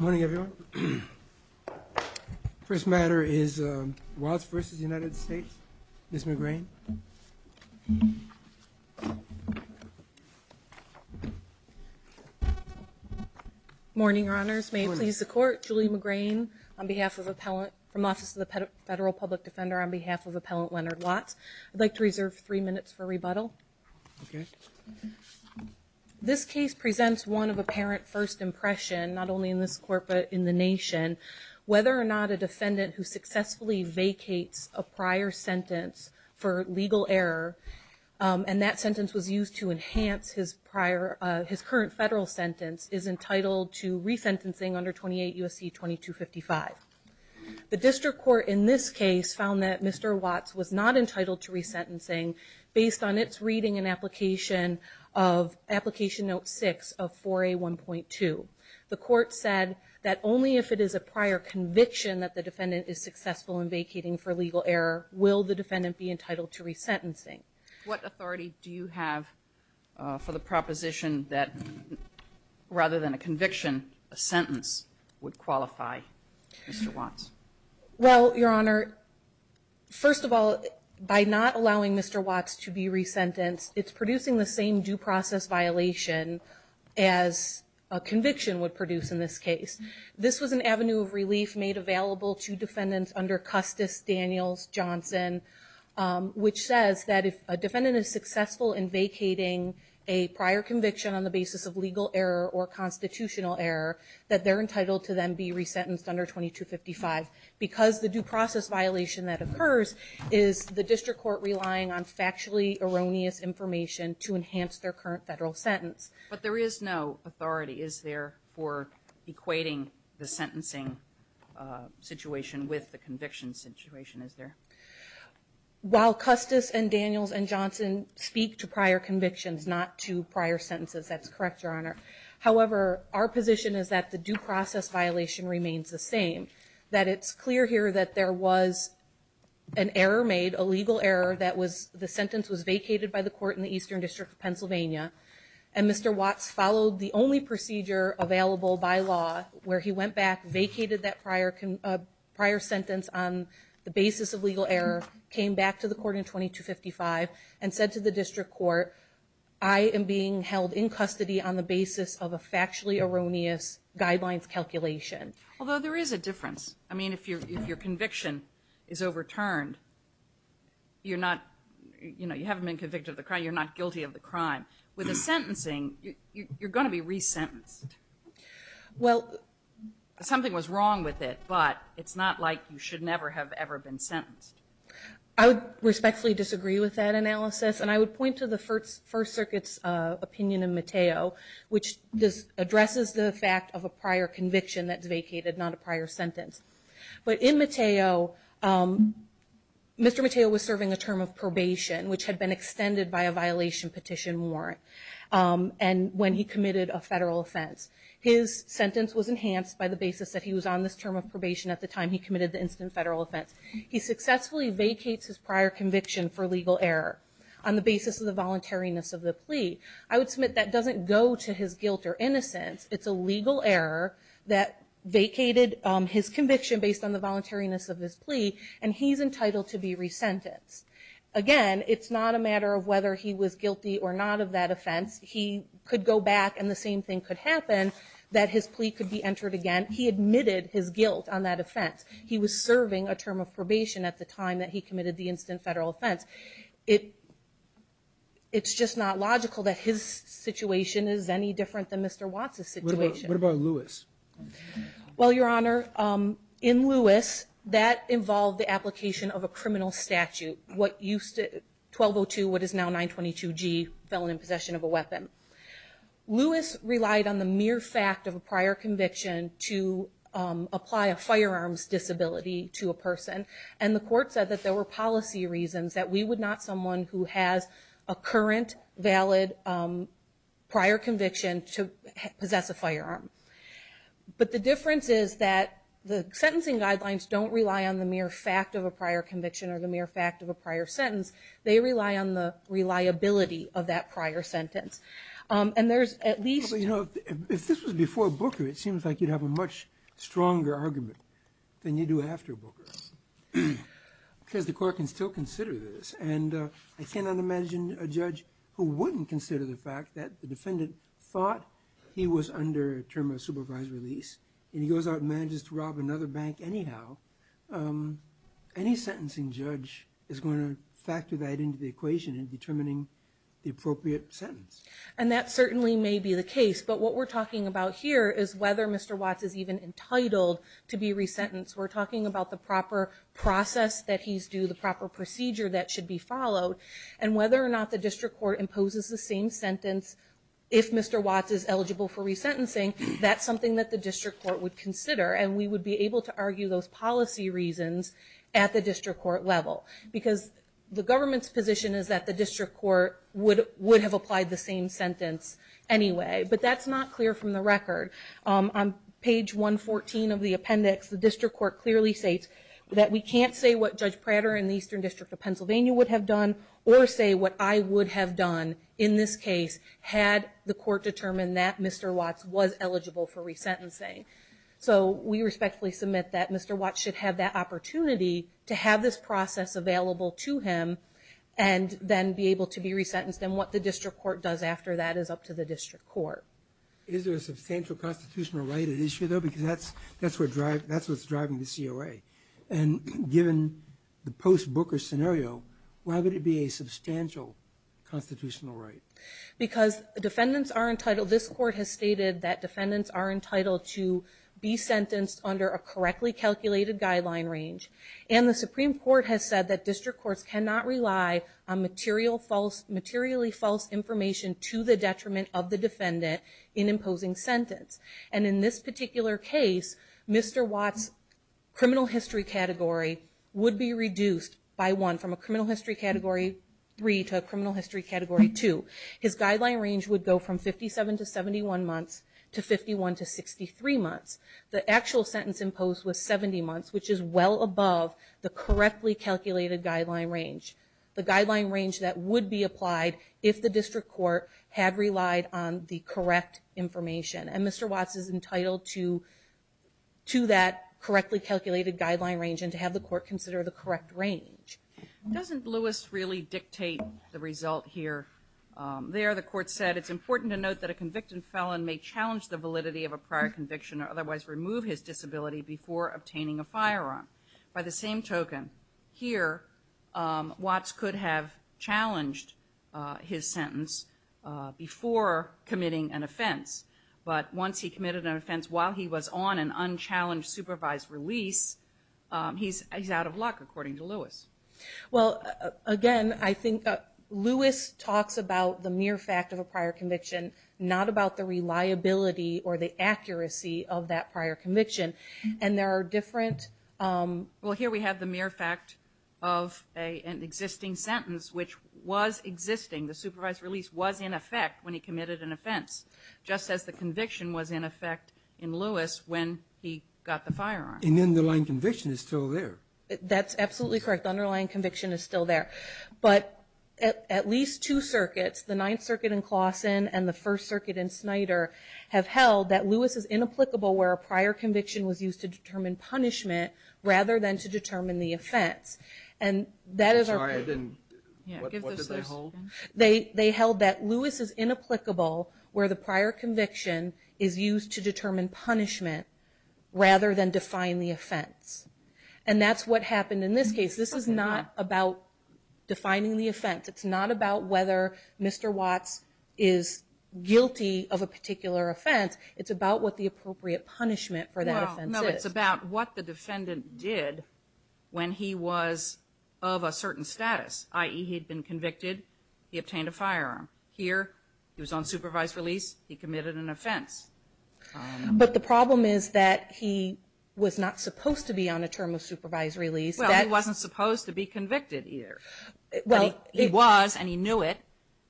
Morning everyone. First matter is Watts v. United States. Ms. McGrane. Morning, Your Honors. May it please the Court, Julie McGrane on behalf of the Appellant from Office of the Federal Public Defender on behalf of Appellant Leonard Watts. I'd like to reserve three minutes for rebuttal. Okay. This case presents one of apparent first impression, not only in this court but in the nation, whether or not a defendant who successfully vacates a prior sentence for legal error and that sentence was used to enhance his prior his current federal sentence is entitled to re-sentencing under 28 U.S.C. 2255. The District Court in this case found that Mr. Watts was not entitled to of 4A 1.2. The court said that only if it is a prior conviction that the defendant is successful in vacating for legal error will the defendant be entitled to re-sentencing. What authority do you have for the proposition that rather than a conviction, a sentence would qualify Mr. Watts? Well, Your Honor, first of all, by not allowing Mr. Watts to be re-sentenced, it's producing the same due process violation as a conviction would produce in this case. This was an avenue of relief made available to defendants under Custis, Daniels, Johnson, which says that if a defendant is successful in vacating a prior conviction on the basis of legal error or constitutional error that they're entitled to then be re-sentenced under 2255. Because the due process violation that occurs is the District Court relying on factually erroneous information to enhance their current federal sentence. But there is no authority, is there, for equating the sentencing situation with the conviction situation, is there? While Custis and Daniels and Johnson speak to prior convictions, not to prior sentences, that's correct, Your Honor. However, our position is that the due process violation remains the same. That it's clear here that there was an error made, a legal error, that the sentence was vacated by the court in the Eastern District of Pennsylvania and Mr. Watts followed the only procedure available by law where he went back, vacated that prior sentence on the basis of legal error, came back to the court in 2255 and said to the District Court, I am being held in custody on the basis of a factually erroneous guidelines calculation. Although there is a difference. I mean, if your conviction is overturned, you're not, you know, you haven't been convicted of the crime, you're not guilty of the crime. With a sentencing, you're going to be re-sentenced. Well, something was wrong with it, but it's not like you should never have ever been sentenced. I would respectfully disagree with that analysis and I would point to the First Circuit's opinion in Mateo, which addresses the fact of prior conviction that's vacated, not a prior sentence. But in Mateo, Mr. Mateo was serving a term of probation, which had been extended by a violation petition warrant and when he committed a federal offense. His sentence was enhanced by the basis that he was on this term of probation at the time he committed the instant federal offense. He successfully vacates his prior conviction for legal error on the basis of the voluntariness of the plea. I would submit that doesn't go to his guilt or innocence, it's a legal error that vacated his conviction based on the voluntariness of his plea and he's entitled to be re-sentenced. Again, it's not a matter of whether he was guilty or not of that offense. He could go back and the same thing could happen, that his plea could be entered again. He admitted his guilt on that offense. He was serving a term of probation at the time that he committed the instant federal offense. It's just not logical that his situation is any different than Mr. Watts' situation. What about Lewis? Well, Your Honor, in Lewis, that involved the application of a criminal statute. What used to 1202, what is now 922 G, felon in possession of a weapon. Lewis relied on the mere fact of a prior conviction to apply a firearms disability to a person and the court said that there were policy reasons that we would not someone who has a current, valid, prior conviction to possess a firearm. But the difference is that the sentencing guidelines don't rely on the mere fact of a prior conviction or the mere fact of a prior sentence. They rely on the reliability of that prior sentence. And there's at least... You know, if this was before Booker, it seems like you'd have a much stronger argument than you do after Booker, because the court can still consider this. And I cannot imagine a judge who wouldn't consider the fact that the defendant thought he was under a term of supervised release and he goes out and manages to rob another bank anyhow. Any sentencing judge is going to factor that into the equation in determining the appropriate sentence. And that certainly may be the case, but what we're talking about here is whether Mr. Watts is even entitled to be resentenced. We're talking about the proper process that he's due, the proper procedure that should be followed, and whether or not the district court imposes the same sentence if Mr. Watts is eligible for resentencing. That's something that the district court would consider and we would be able to argue those policy reasons at the district court level. Because the government's position is that the district court would have applied the same sentence anyway. But that's not clear from the record. On page 114 of the appendix, the district court clearly states that we can't say what Judge Prater in the Eastern District of Pennsylvania would have done, or say what I would have done in this case, had the court determined that Mr. Watts was eligible for resentencing. So we respectfully submit that Mr. Watts should have that opportunity to have this process available to him and then be able to be sent to the district court. Is there a substantial constitutional right at issue though? Because that's what's driving the COA. And given the post-Booker scenario, why would it be a substantial constitutional right? Because defendants are entitled, this court has stated that defendants are entitled to be sentenced under a correctly calculated guideline range. And the Supreme Court has said that district courts cannot rely on materially false information to the detriment of the defendant in imposing sentence. And in this particular case, Mr. Watts' criminal history category would be reduced by one from a criminal history category three to a criminal history category two. His guideline range would go from 57 to 71 months to 51 to 63 months. The actual sentence imposed was 70 months, which is well above the correctly calculated guideline range. The guideline range that would be applied is if the district court had relied on the correct information. And Mr. Watts is entitled to that correctly calculated guideline range and to have the court consider the correct range. Doesn't Lewis really dictate the result here? There the court said it's important to note that a convicted felon may challenge the validity of a prior conviction or otherwise remove his disability before obtaining a firearm. By the same token, here Watts could have challenged his sentence before committing an offense. But once he committed an offense while he was on an unchallenged supervised release, he's out of luck according to Lewis. Well again, I think Lewis talks about the mere fact of a prior conviction, not about the reliability or the accuracy of that prior conviction. And there are different... Well here we have the mere fact of an existing sentence, which was existing. The supervised release was in effect when he committed an offense, just as the conviction was in effect in Lewis when he got the firearm. An underlying conviction is still there. That's absolutely correct. The underlying conviction is still there. But at least two circuits, the Ninth Circuit in Claussen and the First Circuit in Snyder, have held that Lewis is inapplicable where a prior conviction was used to determine punishment rather than define the offense. And that's what happened in this case. This is not about defining the offense. It's not about whether Mr. Watts is guilty of a particular offense. It's about what the appropriate punishment for that offense is. No, it's about what the defendant did when he was of a certain status, i.e. he'd been convicted, he obtained a firearm. Here, he was on supervised release, he committed an offense. But the problem is that he was not supposed to be on a term of supervised release. Well, he wasn't supposed to be convicted either. Well, he was and he knew it.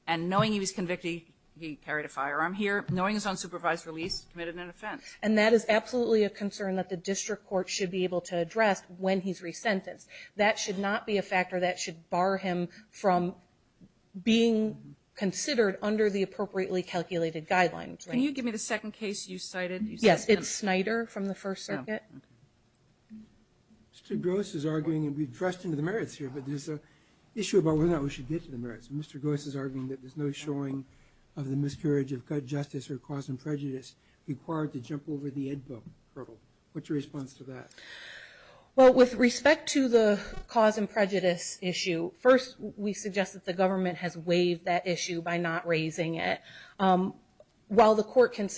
And knowing he was convicted, he carried a firearm. Here, knowing he was on supervised release, he committed an offense. And that is absolutely a concern that the district court should be able to address when he's resentenced. That should not be a factor that should bar him from being considered under the appropriately calculated guidelines. Can you give me the second case you cited? Yes, it's Snyder from the First Circuit. Mr. Gross is arguing, and we've dressed into the merits here, but there's an issue about whether or not we should get to the merits. Mr. Gross is arguing that there's no showing of the miscarriage of justice or cause of prejudice required to jump over the Ed book hurdle. What's your response to that? Well, with respect to the cause and prejudice issue, first we suggest that the government has waived that issue by not raising it. While the court can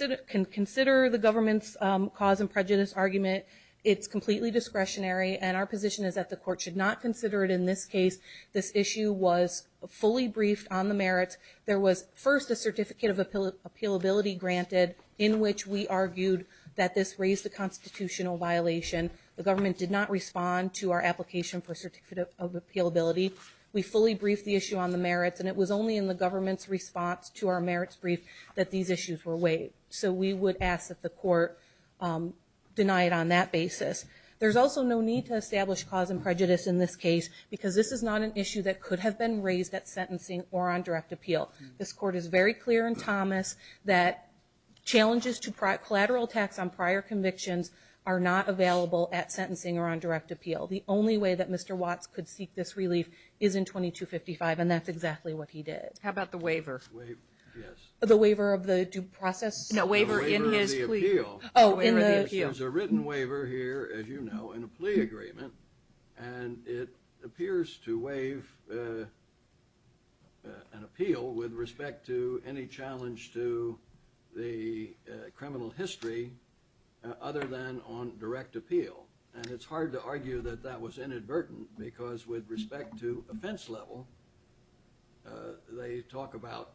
consider the government's cause and prejudice argument, it's completely discretionary and our position is that the court should not consider it in this case. This issue was fully briefed on the merits. There was first a certificate of appealability granted in which we that this raised a constitutional violation. The government did not respond to our application for a certificate of appealability. We fully briefed the issue on the merits, and it was only in the government's response to our merits brief that these issues were waived. So we would ask that the court deny it on that basis. There's also no need to establish cause and prejudice in this case because this is not an issue that could have been raised at sentencing or on direct appeal. This court is very clear in Thomas that challenges to collateral tax on prior convictions are not available at sentencing or on direct appeal. The only way that Mr. Watts could seek this relief is in 2255, and that's exactly what he did. How about the waiver? The waiver of the due process? No, the waiver of the appeal. There's a written waiver here, as you know, in a plea agreement, and it appears to waive an appeal with respect to any challenge to the criminal history other than on direct appeal. And it's hard to argue that that was inadvertent because with respect to offense level, they talk about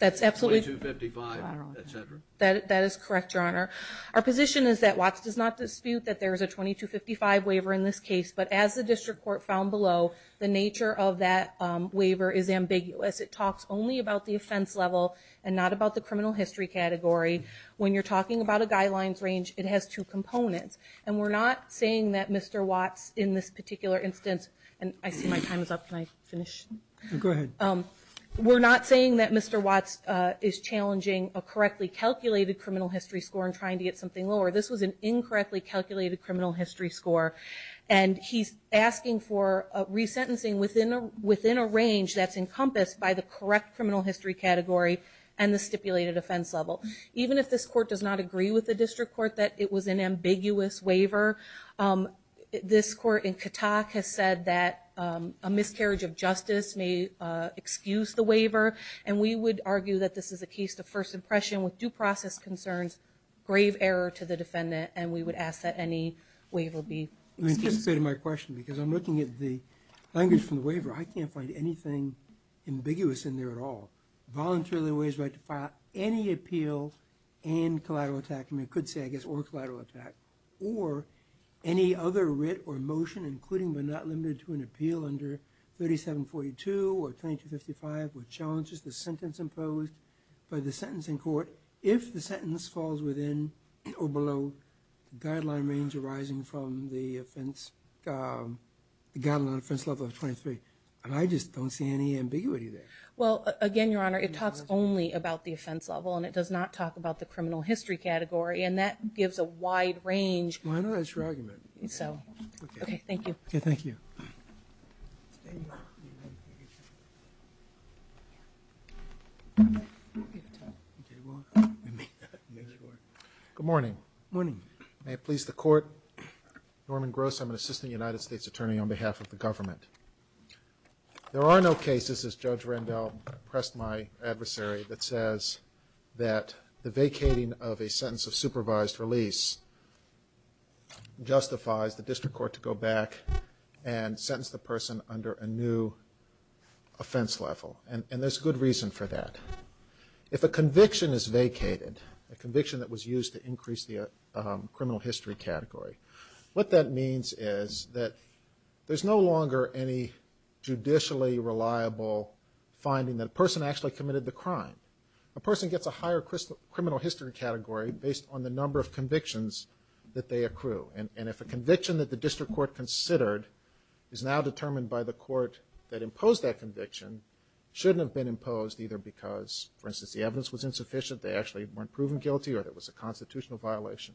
2255, et cetera. That is correct, Your Honor. Our position is that Watts does not dispute that there is a 2255 waiver in this case, but as the district court found below, the nature of that waiver is ambiguous. It talks only about the offense level and not about the criminal history category. When you're talking about a guidelines range, it has two components, and we're not saying that Mr. Watts in this particular instance, and I see my time is up. Can I finish? Go ahead. We're not saying that Mr. Watts is challenging a correctly calculated criminal history score and trying to get something lower. This was an incorrectly calculated criminal history score, and he's asking for resentencing within a range that's encompassed by the correct criminal history category and the stipulated offense level. Even if this court does not agree with the district court that it was an ambiguous waiver, this court in Katak has said that a miscarriage of justice may excuse the waiver, and we would argue that this is a case of first impression with due process concerns, grave error to the defendant, and we would ask that any waiver be excused. I'm looking at the language from the waiver. I can't find anything ambiguous in there at all. Voluntarily waives right to file any appeal and collateral attack. I mean, I could say, I guess, or collateral attack, or any other writ or motion including but not limited to an appeal under 3742 or 2255 which challenges the sentence imposed by the sentencing court if the sentence falls within or below the guideline range arising from the offense, the guideline offense level of 23, and I just don't see any ambiguity there. Well, again, Your Honor, it talks only about the offense level, and it does not talk about the criminal history category, and that gives a wide range. Well, I know that's your argument. So, okay, thank you. Okay, thank you. Good morning. Good morning. May it please the court, Norman Gross, I'm an assistant United States attorney on behalf of the government. There are no cases, as Judge Rendell pressed my adversary, that says that the vacating of a sentence of supervised release justifies the district court to go back and sentence the person under a new offense level, and there's a good reason for that. If a conviction is vacated, a conviction that was used to impose a criminal history category, what that means is that there's no longer any judicially reliable finding that a person actually committed the crime. A person gets a higher criminal history category based on the number of convictions that they accrue, and if a conviction that the district court considered is now determined by the court that imposed that conviction, shouldn't have been imposed either because, for instance, the evidence was insufficient, they actually weren't proven guilty, or there was a constitutional violation.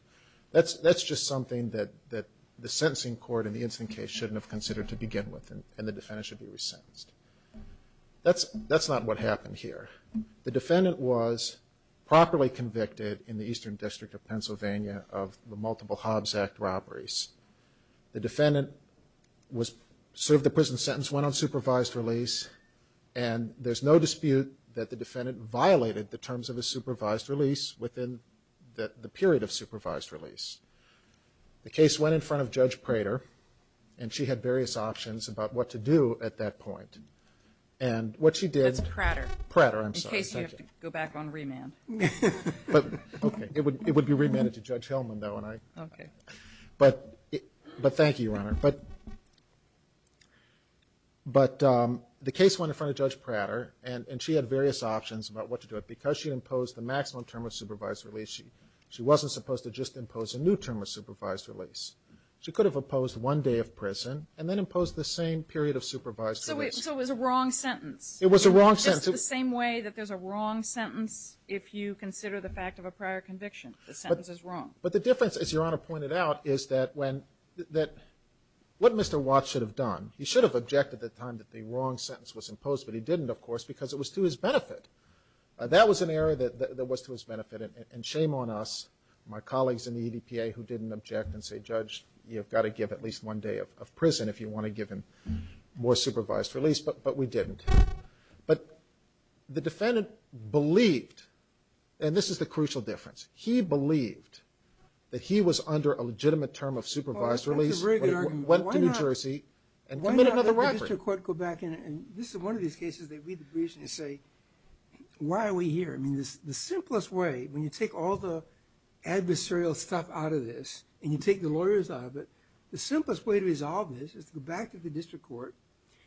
That's just something that the sentencing court in the instant case shouldn't have considered to begin with, and the defendant should be resentenced. That's not what happened here. The defendant was properly convicted in the Eastern District of Pennsylvania of the Multiple Hobbs Act robberies. The defendant was served the prison sentence, went on supervised release, and there's no dispute that the defendant violated the terms of the supervised release within the period of supervised release. The case went in front of Judge Prater, and she had various options about what to do at that point, and what she did. That's Prater. Prater, I'm sorry. In case you have to go back on remand. But, okay. It would be remanded to Judge Hillman, though, and I. Okay. But, thank you, Your Honor. But, the case went in front of Judge Prater, and she had various options about what to do. Because she imposed the maximum term of supervised release, she wasn't supposed to just impose a new term of supervised release. She could have opposed one day of prison, and then imposed the same period of supervised release. So it was a wrong sentence. It was a wrong sentence. Just the same way that there's a wrong sentence if you consider the fact of a prior conviction. The sentence is wrong. But the difference, as Your Honor pointed out, is that when, that, what Mr. Watts should have done. He should have objected at the time that the wrong sentence was imposed, but he didn't, of course, because it was to his benefit. That was an error that, that was to his benefit, and, and shame on us, my colleagues in the EDPA, who didn't object and say, Judge, you've got to give at least one day of, of prison if you want to give him more supervised release. But, but we didn't. But, the defendant believed, and this is the crucial difference. He believed that he was under a legitimate term of supervised release. That's a very good argument. Went to New Jersey and committed another robbery. Why not let the district court go back and, and this is one of these cases they read the briefs and they say, why are we here? I mean, this, the simplest way, when you take all the adversarial stuff out of this, and you take the lawyers out of it, the simplest way to resolve this is to go back to the district court.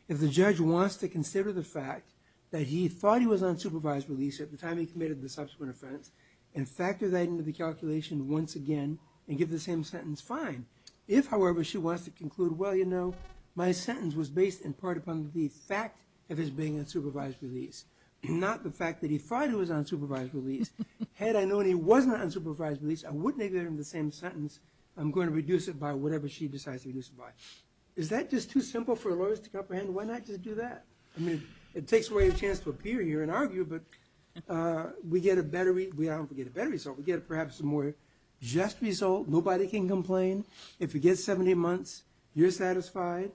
If the judge wants to consider the fact that he thought he was on supervised release at the time he committed the subsequent offense, and factor that into the calculation once again, and give the same sentence, fine. If, however, she wants to conclude, well, you know, my sentence was based in part upon the fact of his being on supervised release, not the fact that he thought he was on supervised release. Had I known he wasn't on supervised release, I wouldn't have given him the same sentence. I'm going to reduce it by whatever she decides to reduce it by. Is that just too simple for lawyers to comprehend? Why not just do that? I mean, it takes away a chance to appear here and argue, but we get a better, we get a better result. We get perhaps a more just result. Nobody can complain. If you get 70 months, you're satisfied.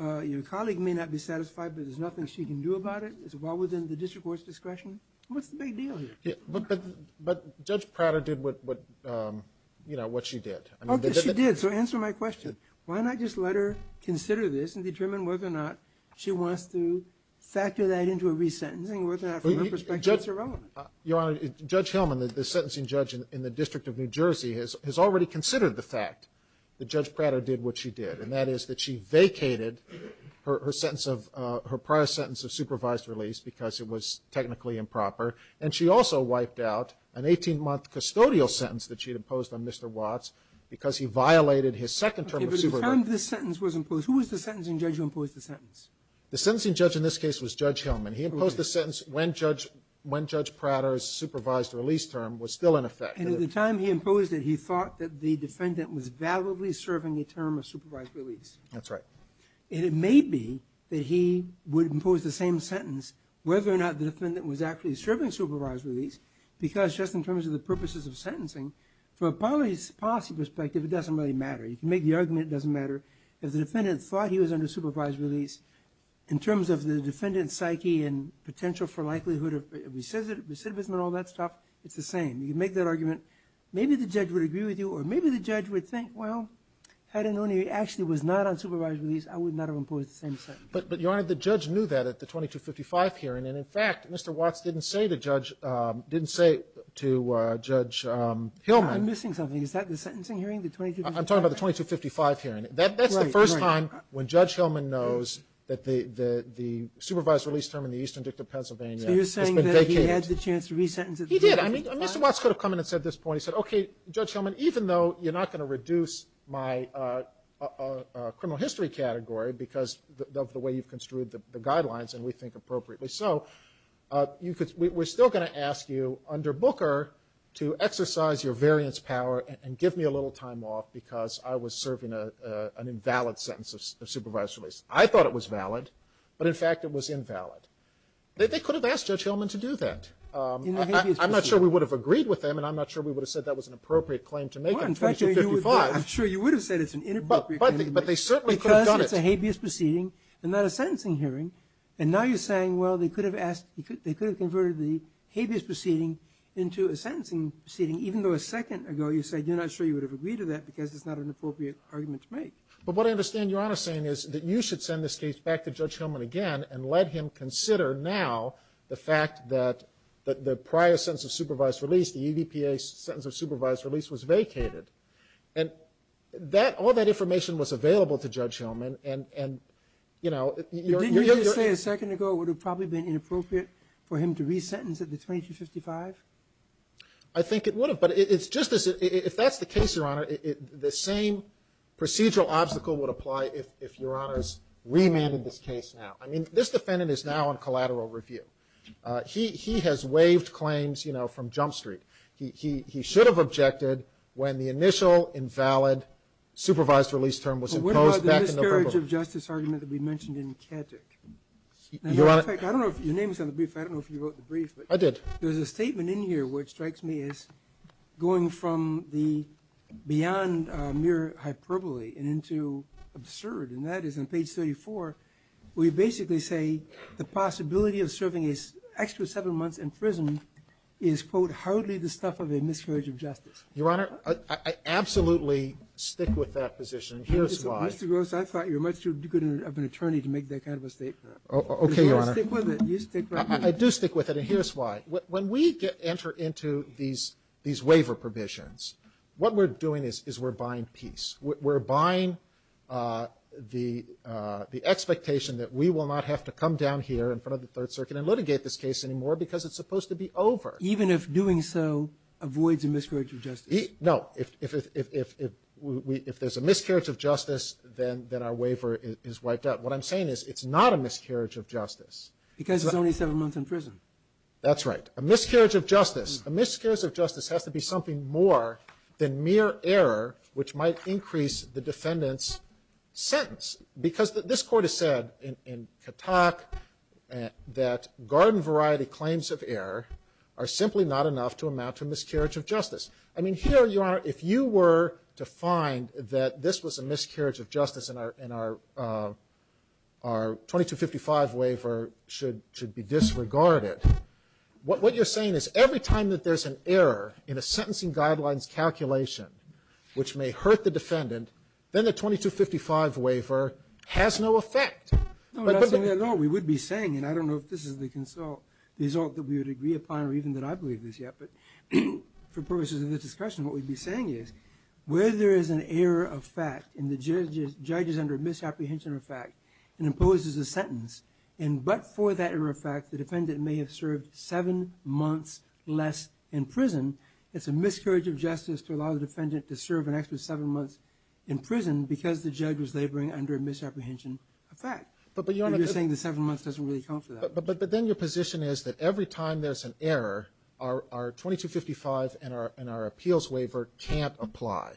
Your colleague may not be satisfied, but there's nothing she can do about it. It's well within the district court's discretion. What's the big deal here? But Judge Prada did what, you know, what she did. Okay, she did. So answer my question. Why not just let her consider this and determine whether or not she wants to factor that into a resentencing, whether or not from her perspective it's irrelevant? Your Honor, Judge Hillman, the sentencing judge in the District of New Jersey, has already considered the fact that Judge Prada did what she did, and that is that she vacated her sentence of, her prior sentence of supervised release because it was technically improper, and she also wiped out an 18-month custodial sentence that she'd imposed on Mr. Watts because he violated his second term of supervisory release. Okay, but the time this sentence was imposed, who was the sentencing judge who imposed the sentence? The sentencing judge in this case was Judge Hillman. He imposed the sentence when Judge Prada's supervised release term was still in effect. And at the time he imposed it, he thought that the defendant was validly serving a term of supervised release. That's right. And it may be that he would impose the same sentence whether or not the defendant was actually serving supervised release because just in terms of the purposes of sentencing, from a policy perspective, it doesn't really matter. You can make the argument, it doesn't matter. If the defendant thought he was under supervised release, in terms of the defendant's psyche and potential for likelihood of recidivism and all that stuff, it's the same. You can make that argument. Maybe the judge would agree with you, or maybe the judge would think, well, had I known he actually was not on supervised release, I would not have imposed the same sentence. But, Your Honor, the judge knew that at the 2255 hearing, and in fact, Mr. Watts didn't say to Judge Hillman... I'm missing something. Is that the sentencing hearing, the 2255? I'm talking about the 2255 hearing. That's the first time when Judge Hillman knows that the supervised release term in the Eastern Dictate of Pennsylvania has been vacated. So you're saying that he had the chance to re-sentence at the 2255? He did. I mean, Mr. Watts could have come in and said at this point, he said, okay, Judge Hillman, even though you're not going to reduce my criminal history category because of the way you've construed the guidelines, and we think appropriately, so we're still going to ask you under Booker to exercise your full time off because I was serving an invalid sentence of supervised release. I thought it was valid, but in fact, it was invalid. They could have asked Judge Hillman to do that. In a habeas proceeding. I'm not sure we would have agreed with them, and I'm not sure we would have said that was an appropriate claim to make on 2255. Well, in fact, I'm sure you would have said it's an inappropriate claim. But they certainly could have done it. Because it's a habeas proceeding and not a sentencing hearing, and now you're saying, well, they could have asked, they could have converted the habeas proceeding into a sentencing proceeding, even though a second ago you said you're not sure you would have agreed to that because it's not an appropriate argument to make. But what I understand Your Honor saying is that you should send this case back to Judge Hillman again and let him consider now the fact that the prior sentence of supervised release, the EVPA sentence of supervised release, was vacated. And all that information was available to Judge Hillman, and, you know, You're saying a second ago it would have probably been inappropriate for him to resentence at the 2255? I think it would have. But it's just as if that's the case, Your Honor, the same procedural obstacle would apply if Your Honor's remanded this case now. I mean, this defendant is now on collateral review. He has waived claims, you know, from Jump Street. He should have objected when the initial invalid supervised release term was imposed back in November. But what about the discourage of justice argument that we mentioned in Kedrick? In fact, I don't know if your name was on the brief. I don't know if you wrote the brief. I did. There's a statement in here which strikes me as going from the beyond mere hyperbole and into absurd. And that is on page 34, we basically say the possibility of serving an extra seven months in prison is, quote, hardly the stuff of a miscarriage of justice. Your Honor, I absolutely stick with that position. Here's why. Mr. Gross, I thought you were much too good of an attorney to make that kind of a statement. Okay, Your Honor. You stick with it. I do stick with it. And here's why. When we enter into these waiver provisions, what we're doing is we're buying peace. We're buying the expectation that we will not have to come down here in front of the Third Circuit and litigate this case anymore because it's supposed to be over. Even if doing so avoids a miscarriage of justice? No. If there's a miscarriage of justice, then our waiver is wiped out. What I'm saying is it's not a miscarriage of justice. Because it's only seven months in prison. That's right. A miscarriage of justice. A miscarriage of justice has to be something more than mere error which might increase the defendant's sentence. Because this Court has said in Katak that garden variety claims of error are simply not enough to amount to a miscarriage of justice. I mean, here, Your Honor, if you were to find that this was a miscarriage of justice and our 2255 waiver should be disregarded, what you're saying is every time that there's an error in a sentencing guidelines calculation which may hurt the defendant, then the 2255 waiver has no effect. No, that's not what we would be saying. And I don't know if this is the result that we would agree upon or even that I believe this yet. But for purposes of this discussion, what we'd be saying is where there is an error of fact and the judge is under a misapprehension of fact and imposes a sentence, and but for that error of fact, the defendant may have served seven months less in prison, it's a miscarriage of justice to allow the defendant to serve an extra seven months in prison because the judge was laboring under a misapprehension of fact. You're saying the seven months doesn't really count for that. But then your position is that every time there's an error, our 2255 and our appeals waiver can't apply.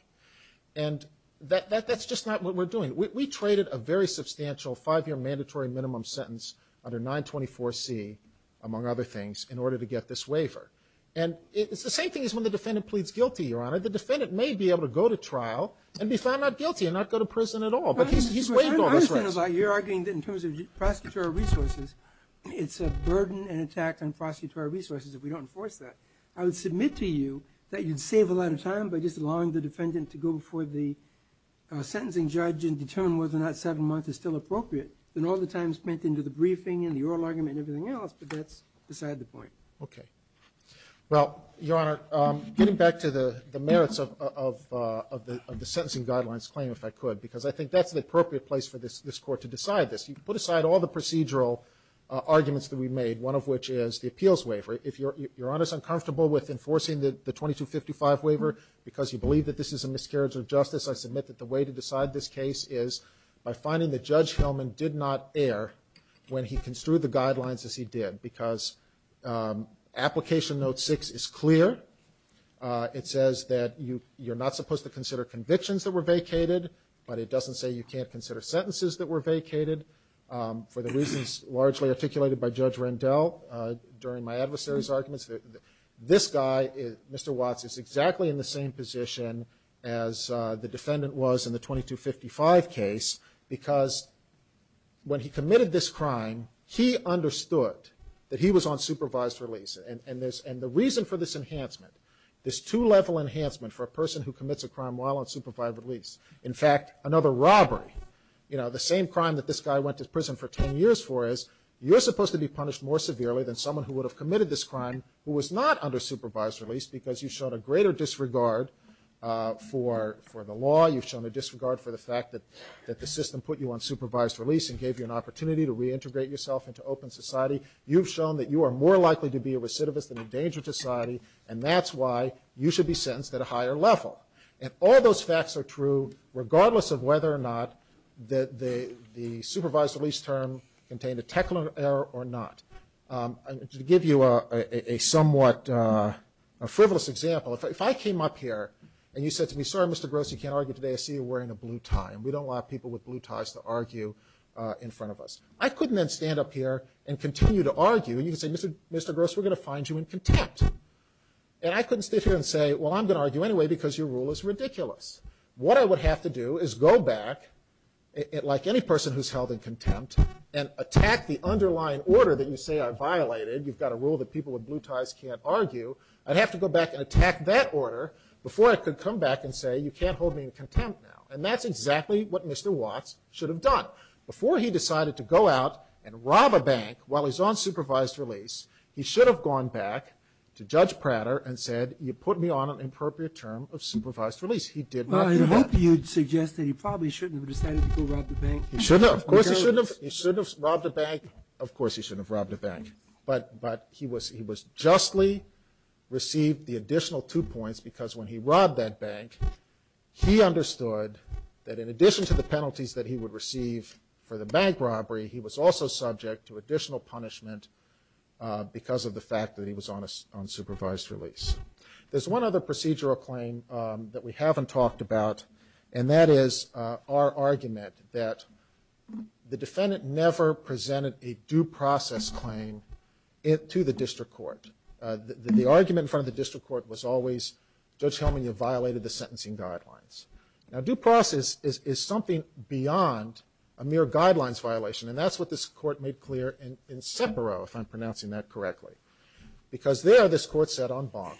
And that's just not what we're doing. We traded a very substantial five-year mandatory minimum sentence under 924C, among other things, in order to get this waiver. And it's the same thing as when the defendant pleads guilty, Your Honor. The defendant may be able to go to trial and be found not guilty and not go to prison at all. But he's waived all those rights. I understand that you're arguing in terms of prosecutorial resources, it's a burden and attack on prosecutorial resources if we don't enforce that. I would submit to you that you'd save a lot of time by just allowing the defendant to go before the sentencing judge and determine whether or not seven months is still appropriate. Then all the time spent into the briefing and the oral argument and everything else, but that's beside the point. Okay. Well, Your Honor, getting back to the merits of the sentencing guidelines claim, if I could, because I think that's the appropriate place for this court to decide this. You put aside all the procedural arguments that we've made, one of which is the appeals waiver. If Your Honor is uncomfortable with enforcing the 2255 waiver because you believe that this is a miscarriage of justice, I submit that the way to decide this case is by finding that Judge Hellman did not err when he construed the guidelines as he did, because application note six is clear. It says that you're not supposed to consider convictions that were vacated, but it doesn't say you can't consider sentences that were vacated. For the reasons largely articulated by Judge Rendell during my adversary's arguments, this guy, Mr. Watts, is exactly in the same position as the defendant was in the 2255 case, because when he committed this crime, he understood that he was on supervised release. And the reason for this enhancement, this two-level enhancement for a person who commits a crime while on supervised release, in fact, another robbery, you know, the same crime that this guy went to prison for ten years for is, you're supposed to be punished more severely than someone who would have committed this crime who was not under supervised release, because you've shown a greater disregard for the law, you've shown a disregard for the fact that the system put you on supervised release and gave you an opportunity to reintegrate yourself into open society. You've shown that you are more likely to be a recidivist and endanger society, and that's why you should be sentenced at a higher level. And all those facts are true regardless of whether or not the supervised release term contained a technical error or not. To give you a somewhat frivolous example, if I came up here and you said to me, sorry, Mr. Gross, you can't argue today, I see you're wearing a blue tie, and we don't want people with blue ties to argue in front of us. I couldn't then stand up here and continue to argue, and you can say, Mr. Gross, we're going to find you in contempt. And I couldn't sit here and say, well, I'm going to argue anyway because you're rule is ridiculous. What I would have to do is go back, like any person who's held in contempt, and attack the underlying order that you say I violated. You've got a rule that people with blue ties can't argue. I'd have to go back and attack that order before I could come back and say, you can't hold me in contempt now. And that's exactly what Mr. Watts should have done. Before he decided to go out and rob a bank while he's on supervised release, he should have gone back to Judge Prater and said, you put me on an inappropriate term of supervised release. He did not do that. Well, I hope you'd suggest that he probably shouldn't have decided to go rob the bank. He shouldn't have. Of course he shouldn't have. He shouldn't have robbed a bank. Of course he shouldn't have robbed a bank. But he was justly received the additional two points because when he robbed that bank, he understood that in addition to the penalties that he would receive for the bank robbery, he was also subject to additional punishment because of the fact that he was on supervised release. There's one other procedural claim that we haven't talked about, and that is our argument that the defendant never presented a due process claim to the district court. The argument in front of the district court was always, Judge Helman, you violated the sentencing guidelines. Now, due process is something beyond a mere guidelines violation, and that's what this court made clear in SEPARO, if I'm pronouncing that correctly. Because there, this court said on bond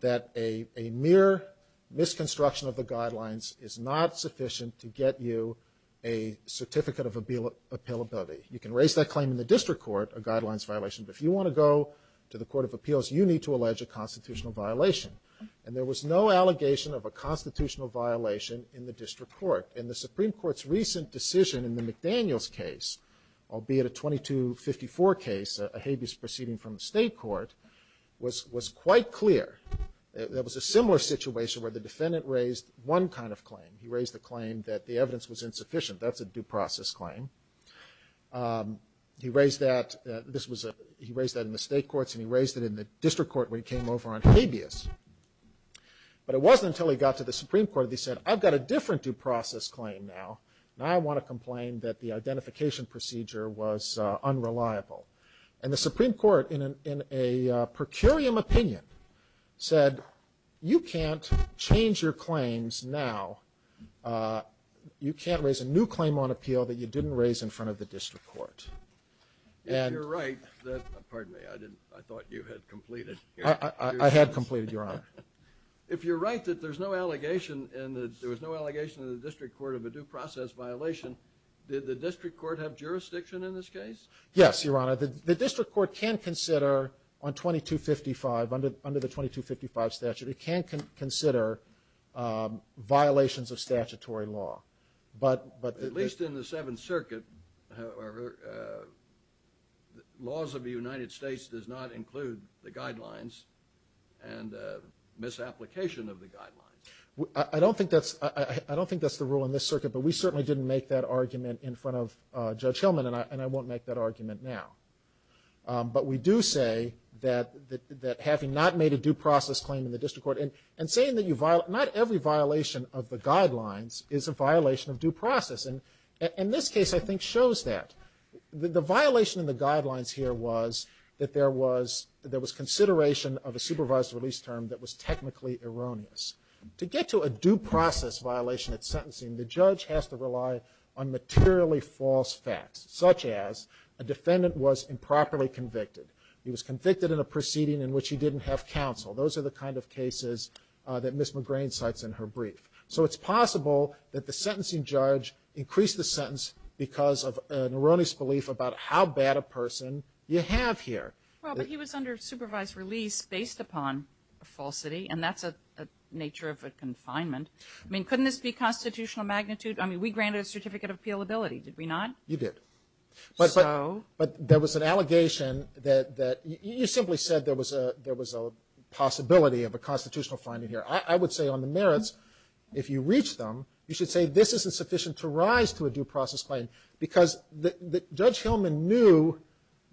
that a mere misconstruction of the guidelines is not sufficient to get you a certificate of appealability. You can raise that claim in the district court, a guidelines violation, but if you want to go to the court of appeals, you need to allege a constitutional violation. And there was no allegation of a constitutional violation in the district court, and the Supreme Court's recent decision in the McDaniels case, albeit a 2254 case, a habeas proceeding from the state court, was quite clear. There was a similar situation where the defendant raised one kind of claim. He raised the claim that the evidence was insufficient. That's a due process claim. He raised that in the state courts, and he raised it in the district court when he came over on habeas. But it wasn't until he got to the Supreme Court that he said, I've got a different due process claim now, and I want to complain that the identification procedure was unreliable. And the Supreme Court, in a, in a per curiam opinion, said, you can't change your claims now, you can't raise a new claim on appeal that you didn't raise in front of the district court, and- If you're right, that, pardon me, I didn't, I thought you had completed your- I, I, I had completed, Your Honor. If you're right that there's no allegation in the, there was no allegation in the district court of a due process violation, did the district court have jurisdiction in this case? Yes, Your Honor, the, the district court can consider on 2255, under, under the 2255 statute, it can consider violations of statutory law. But, but the- At least in the Seventh Circuit, however, the laws of the United States does not include the guidelines and the misapplication of the guidelines. I, I don't think that's, I, I, I don't think that's the rule in this circuit, but we certainly didn't make that argument in front of Judge Hillman, and I, and I won't make that argument now. But we do say that, that, that having not made a due process claim in the district court, and, and saying that you violate, not every violation of the guidelines is a violation of due process. And, and this case, I think, shows that. The, the violation in the guidelines here was that there was, that there was consideration of a supervised release term that was technically erroneous. To get to a due process violation at sentencing, the judge has to rely on materially false facts, such as a defendant was improperly convicted. He was convicted in a proceeding in which he didn't have counsel. Those are the kind of cases that Ms. McGrain cites in her brief. So it's possible that the sentencing judge increased the sentence because of an erroneous belief about how bad a person you have here. Well, but he was under supervised release based upon a falsity, and that's a, a nature of a confinement. I mean, couldn't this be constitutional magnitude? I mean, we granted a certificate of appealability, did we not? You did. So? But, but there was an allegation that, that you simply said there was a, there was a possibility of a constitutional finding here. I, I would say on the merits, if you reach them, you should say this isn't sufficient to rise to a due process claim. Because the, the, Judge Hillman knew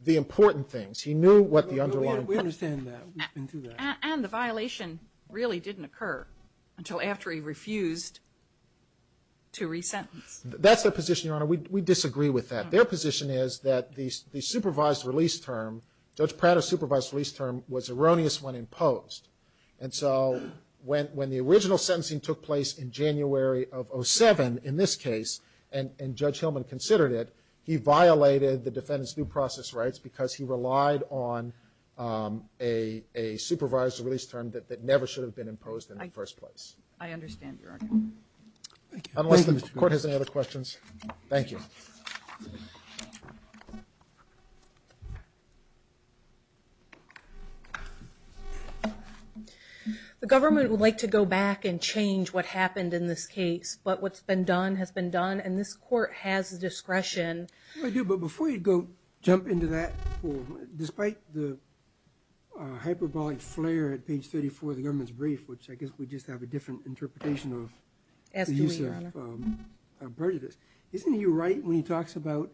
the important things. He knew what the underlying. We understand that. We've been through that. And the violation really didn't occur until after he refused to re-sentence. That's their position, Your Honor. We, we disagree with that. Their position is that the, the supervised release term, Judge Prado's supervised release term was erroneous when imposed. And so, when, when the original sentencing took place in January of 07, in this case, and, and Judge Hillman considered it, he violated the defendant's due process rights because he relied on a, a supervised release term that, that never should have been imposed in the first place. I understand, Your Honor. Thank you. Unless the court has any other questions. Thank you. The government would like to go back and change what happened in this case. But what's been done has been done. And this court has discretion. I do, but before you go, jump into that, despite the hyperbolic flare at page 34 of the government's brief, which I guess we just have a different interpretation of the use of prejudice. Isn't he right when he talks about,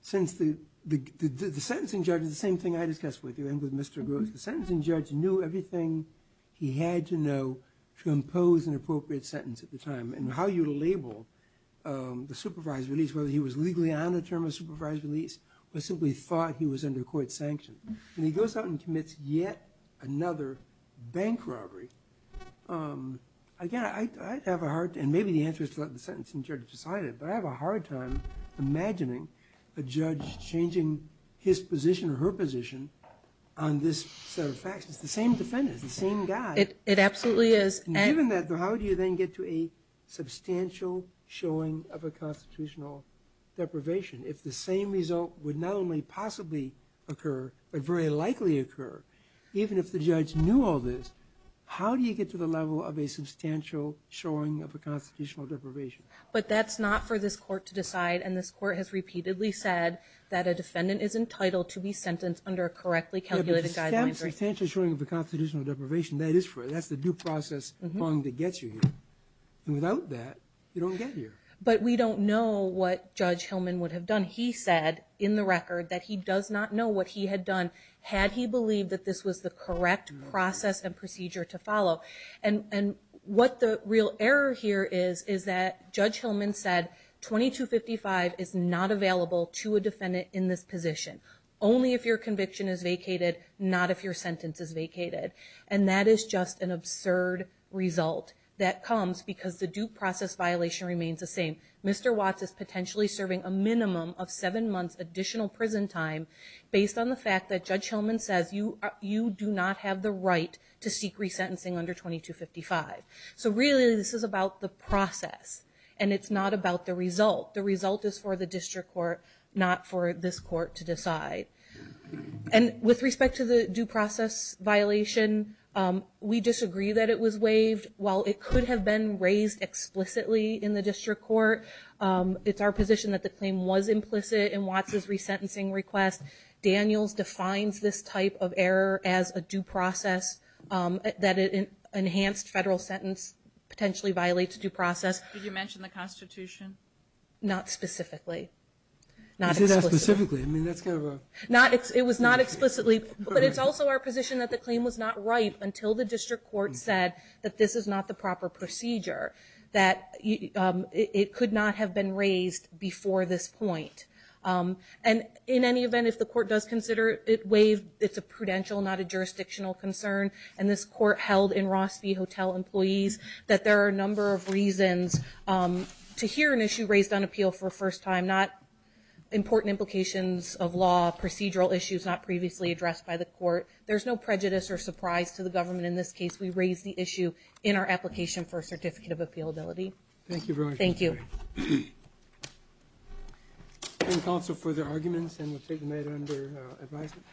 since the, the, the, the sentencing judge, the same thing I discussed with you and with Mr. Gross, the sentencing judge knew everything he had to know to impose an appropriate sentence at the time. And how you label the supervised release, whether he was legally on a term of supervised release, or simply thought he was under court sanction. And he goes out and commits yet another bank robbery. Again, I, I'd have a hard, and maybe the answer is to let the sentencing judge decide it, but I have a hard time imagining a judge changing his position or her position on this set of facts. It's the same defendant, it's the same guy. It, it absolutely is. And given that, how do you then get to a substantial showing of a constitutional deprivation? If the same result would not only possibly occur, but very likely occur, even if the judge knew all this, how do you get to the level of a substantial showing of a constitutional deprivation? But that's not for this court to decide. And this court has repeatedly said that a defendant is entitled to be sentenced under a correctly calculated guideline. Yeah, but the substantial showing of a constitutional deprivation, that is for, that's the due process that gets you here. And without that, you don't get here. But we don't know what Judge Hillman would have done. He said in the record that he does not know what he had done, And, and what the real error here is, is that Judge Hillman said 2255 is not available to a defendant in this position. Only if your conviction is vacated, not if your sentence is vacated. And that is just an absurd result that comes because the due process violation remains the same. Mr. Watts is potentially serving a minimum of seven months additional prison time, based on the fact that Judge Hillman says you, you do not have the right to seek resentencing under 2255. So really, this is about the process. And it's not about the result. The result is for the district court, not for this court to decide. And with respect to the due process violation, we disagree that it was waived. While it could have been raised explicitly in the district court, it's our position that the claim was implicit in Watts' resentencing request. Daniels defines this type of error as a due process, that an enhanced federal sentence potentially violates due process. Did you mention the Constitution? Not specifically. Not explicitly. I mean, that's kind of a... Not, it was not explicitly, but it's also our position that the claim was not right until the district court said that this is not the proper procedure. That it could not have been raised before this point. And in any event, if the court does consider it waived, it's a prudential, not a jurisdictional concern. And this court held in Rossby Hotel employees that there are a number of reasons to hear an issue raised on appeal for a first time, not important implications of law, procedural issues not previously addressed by the court. There's no prejudice or surprise to the government in this case. We raise the issue in our application for a certificate of appealability. Thank you very much. Thank you. Any thoughts or further arguments? And we'll take a minute under advisement.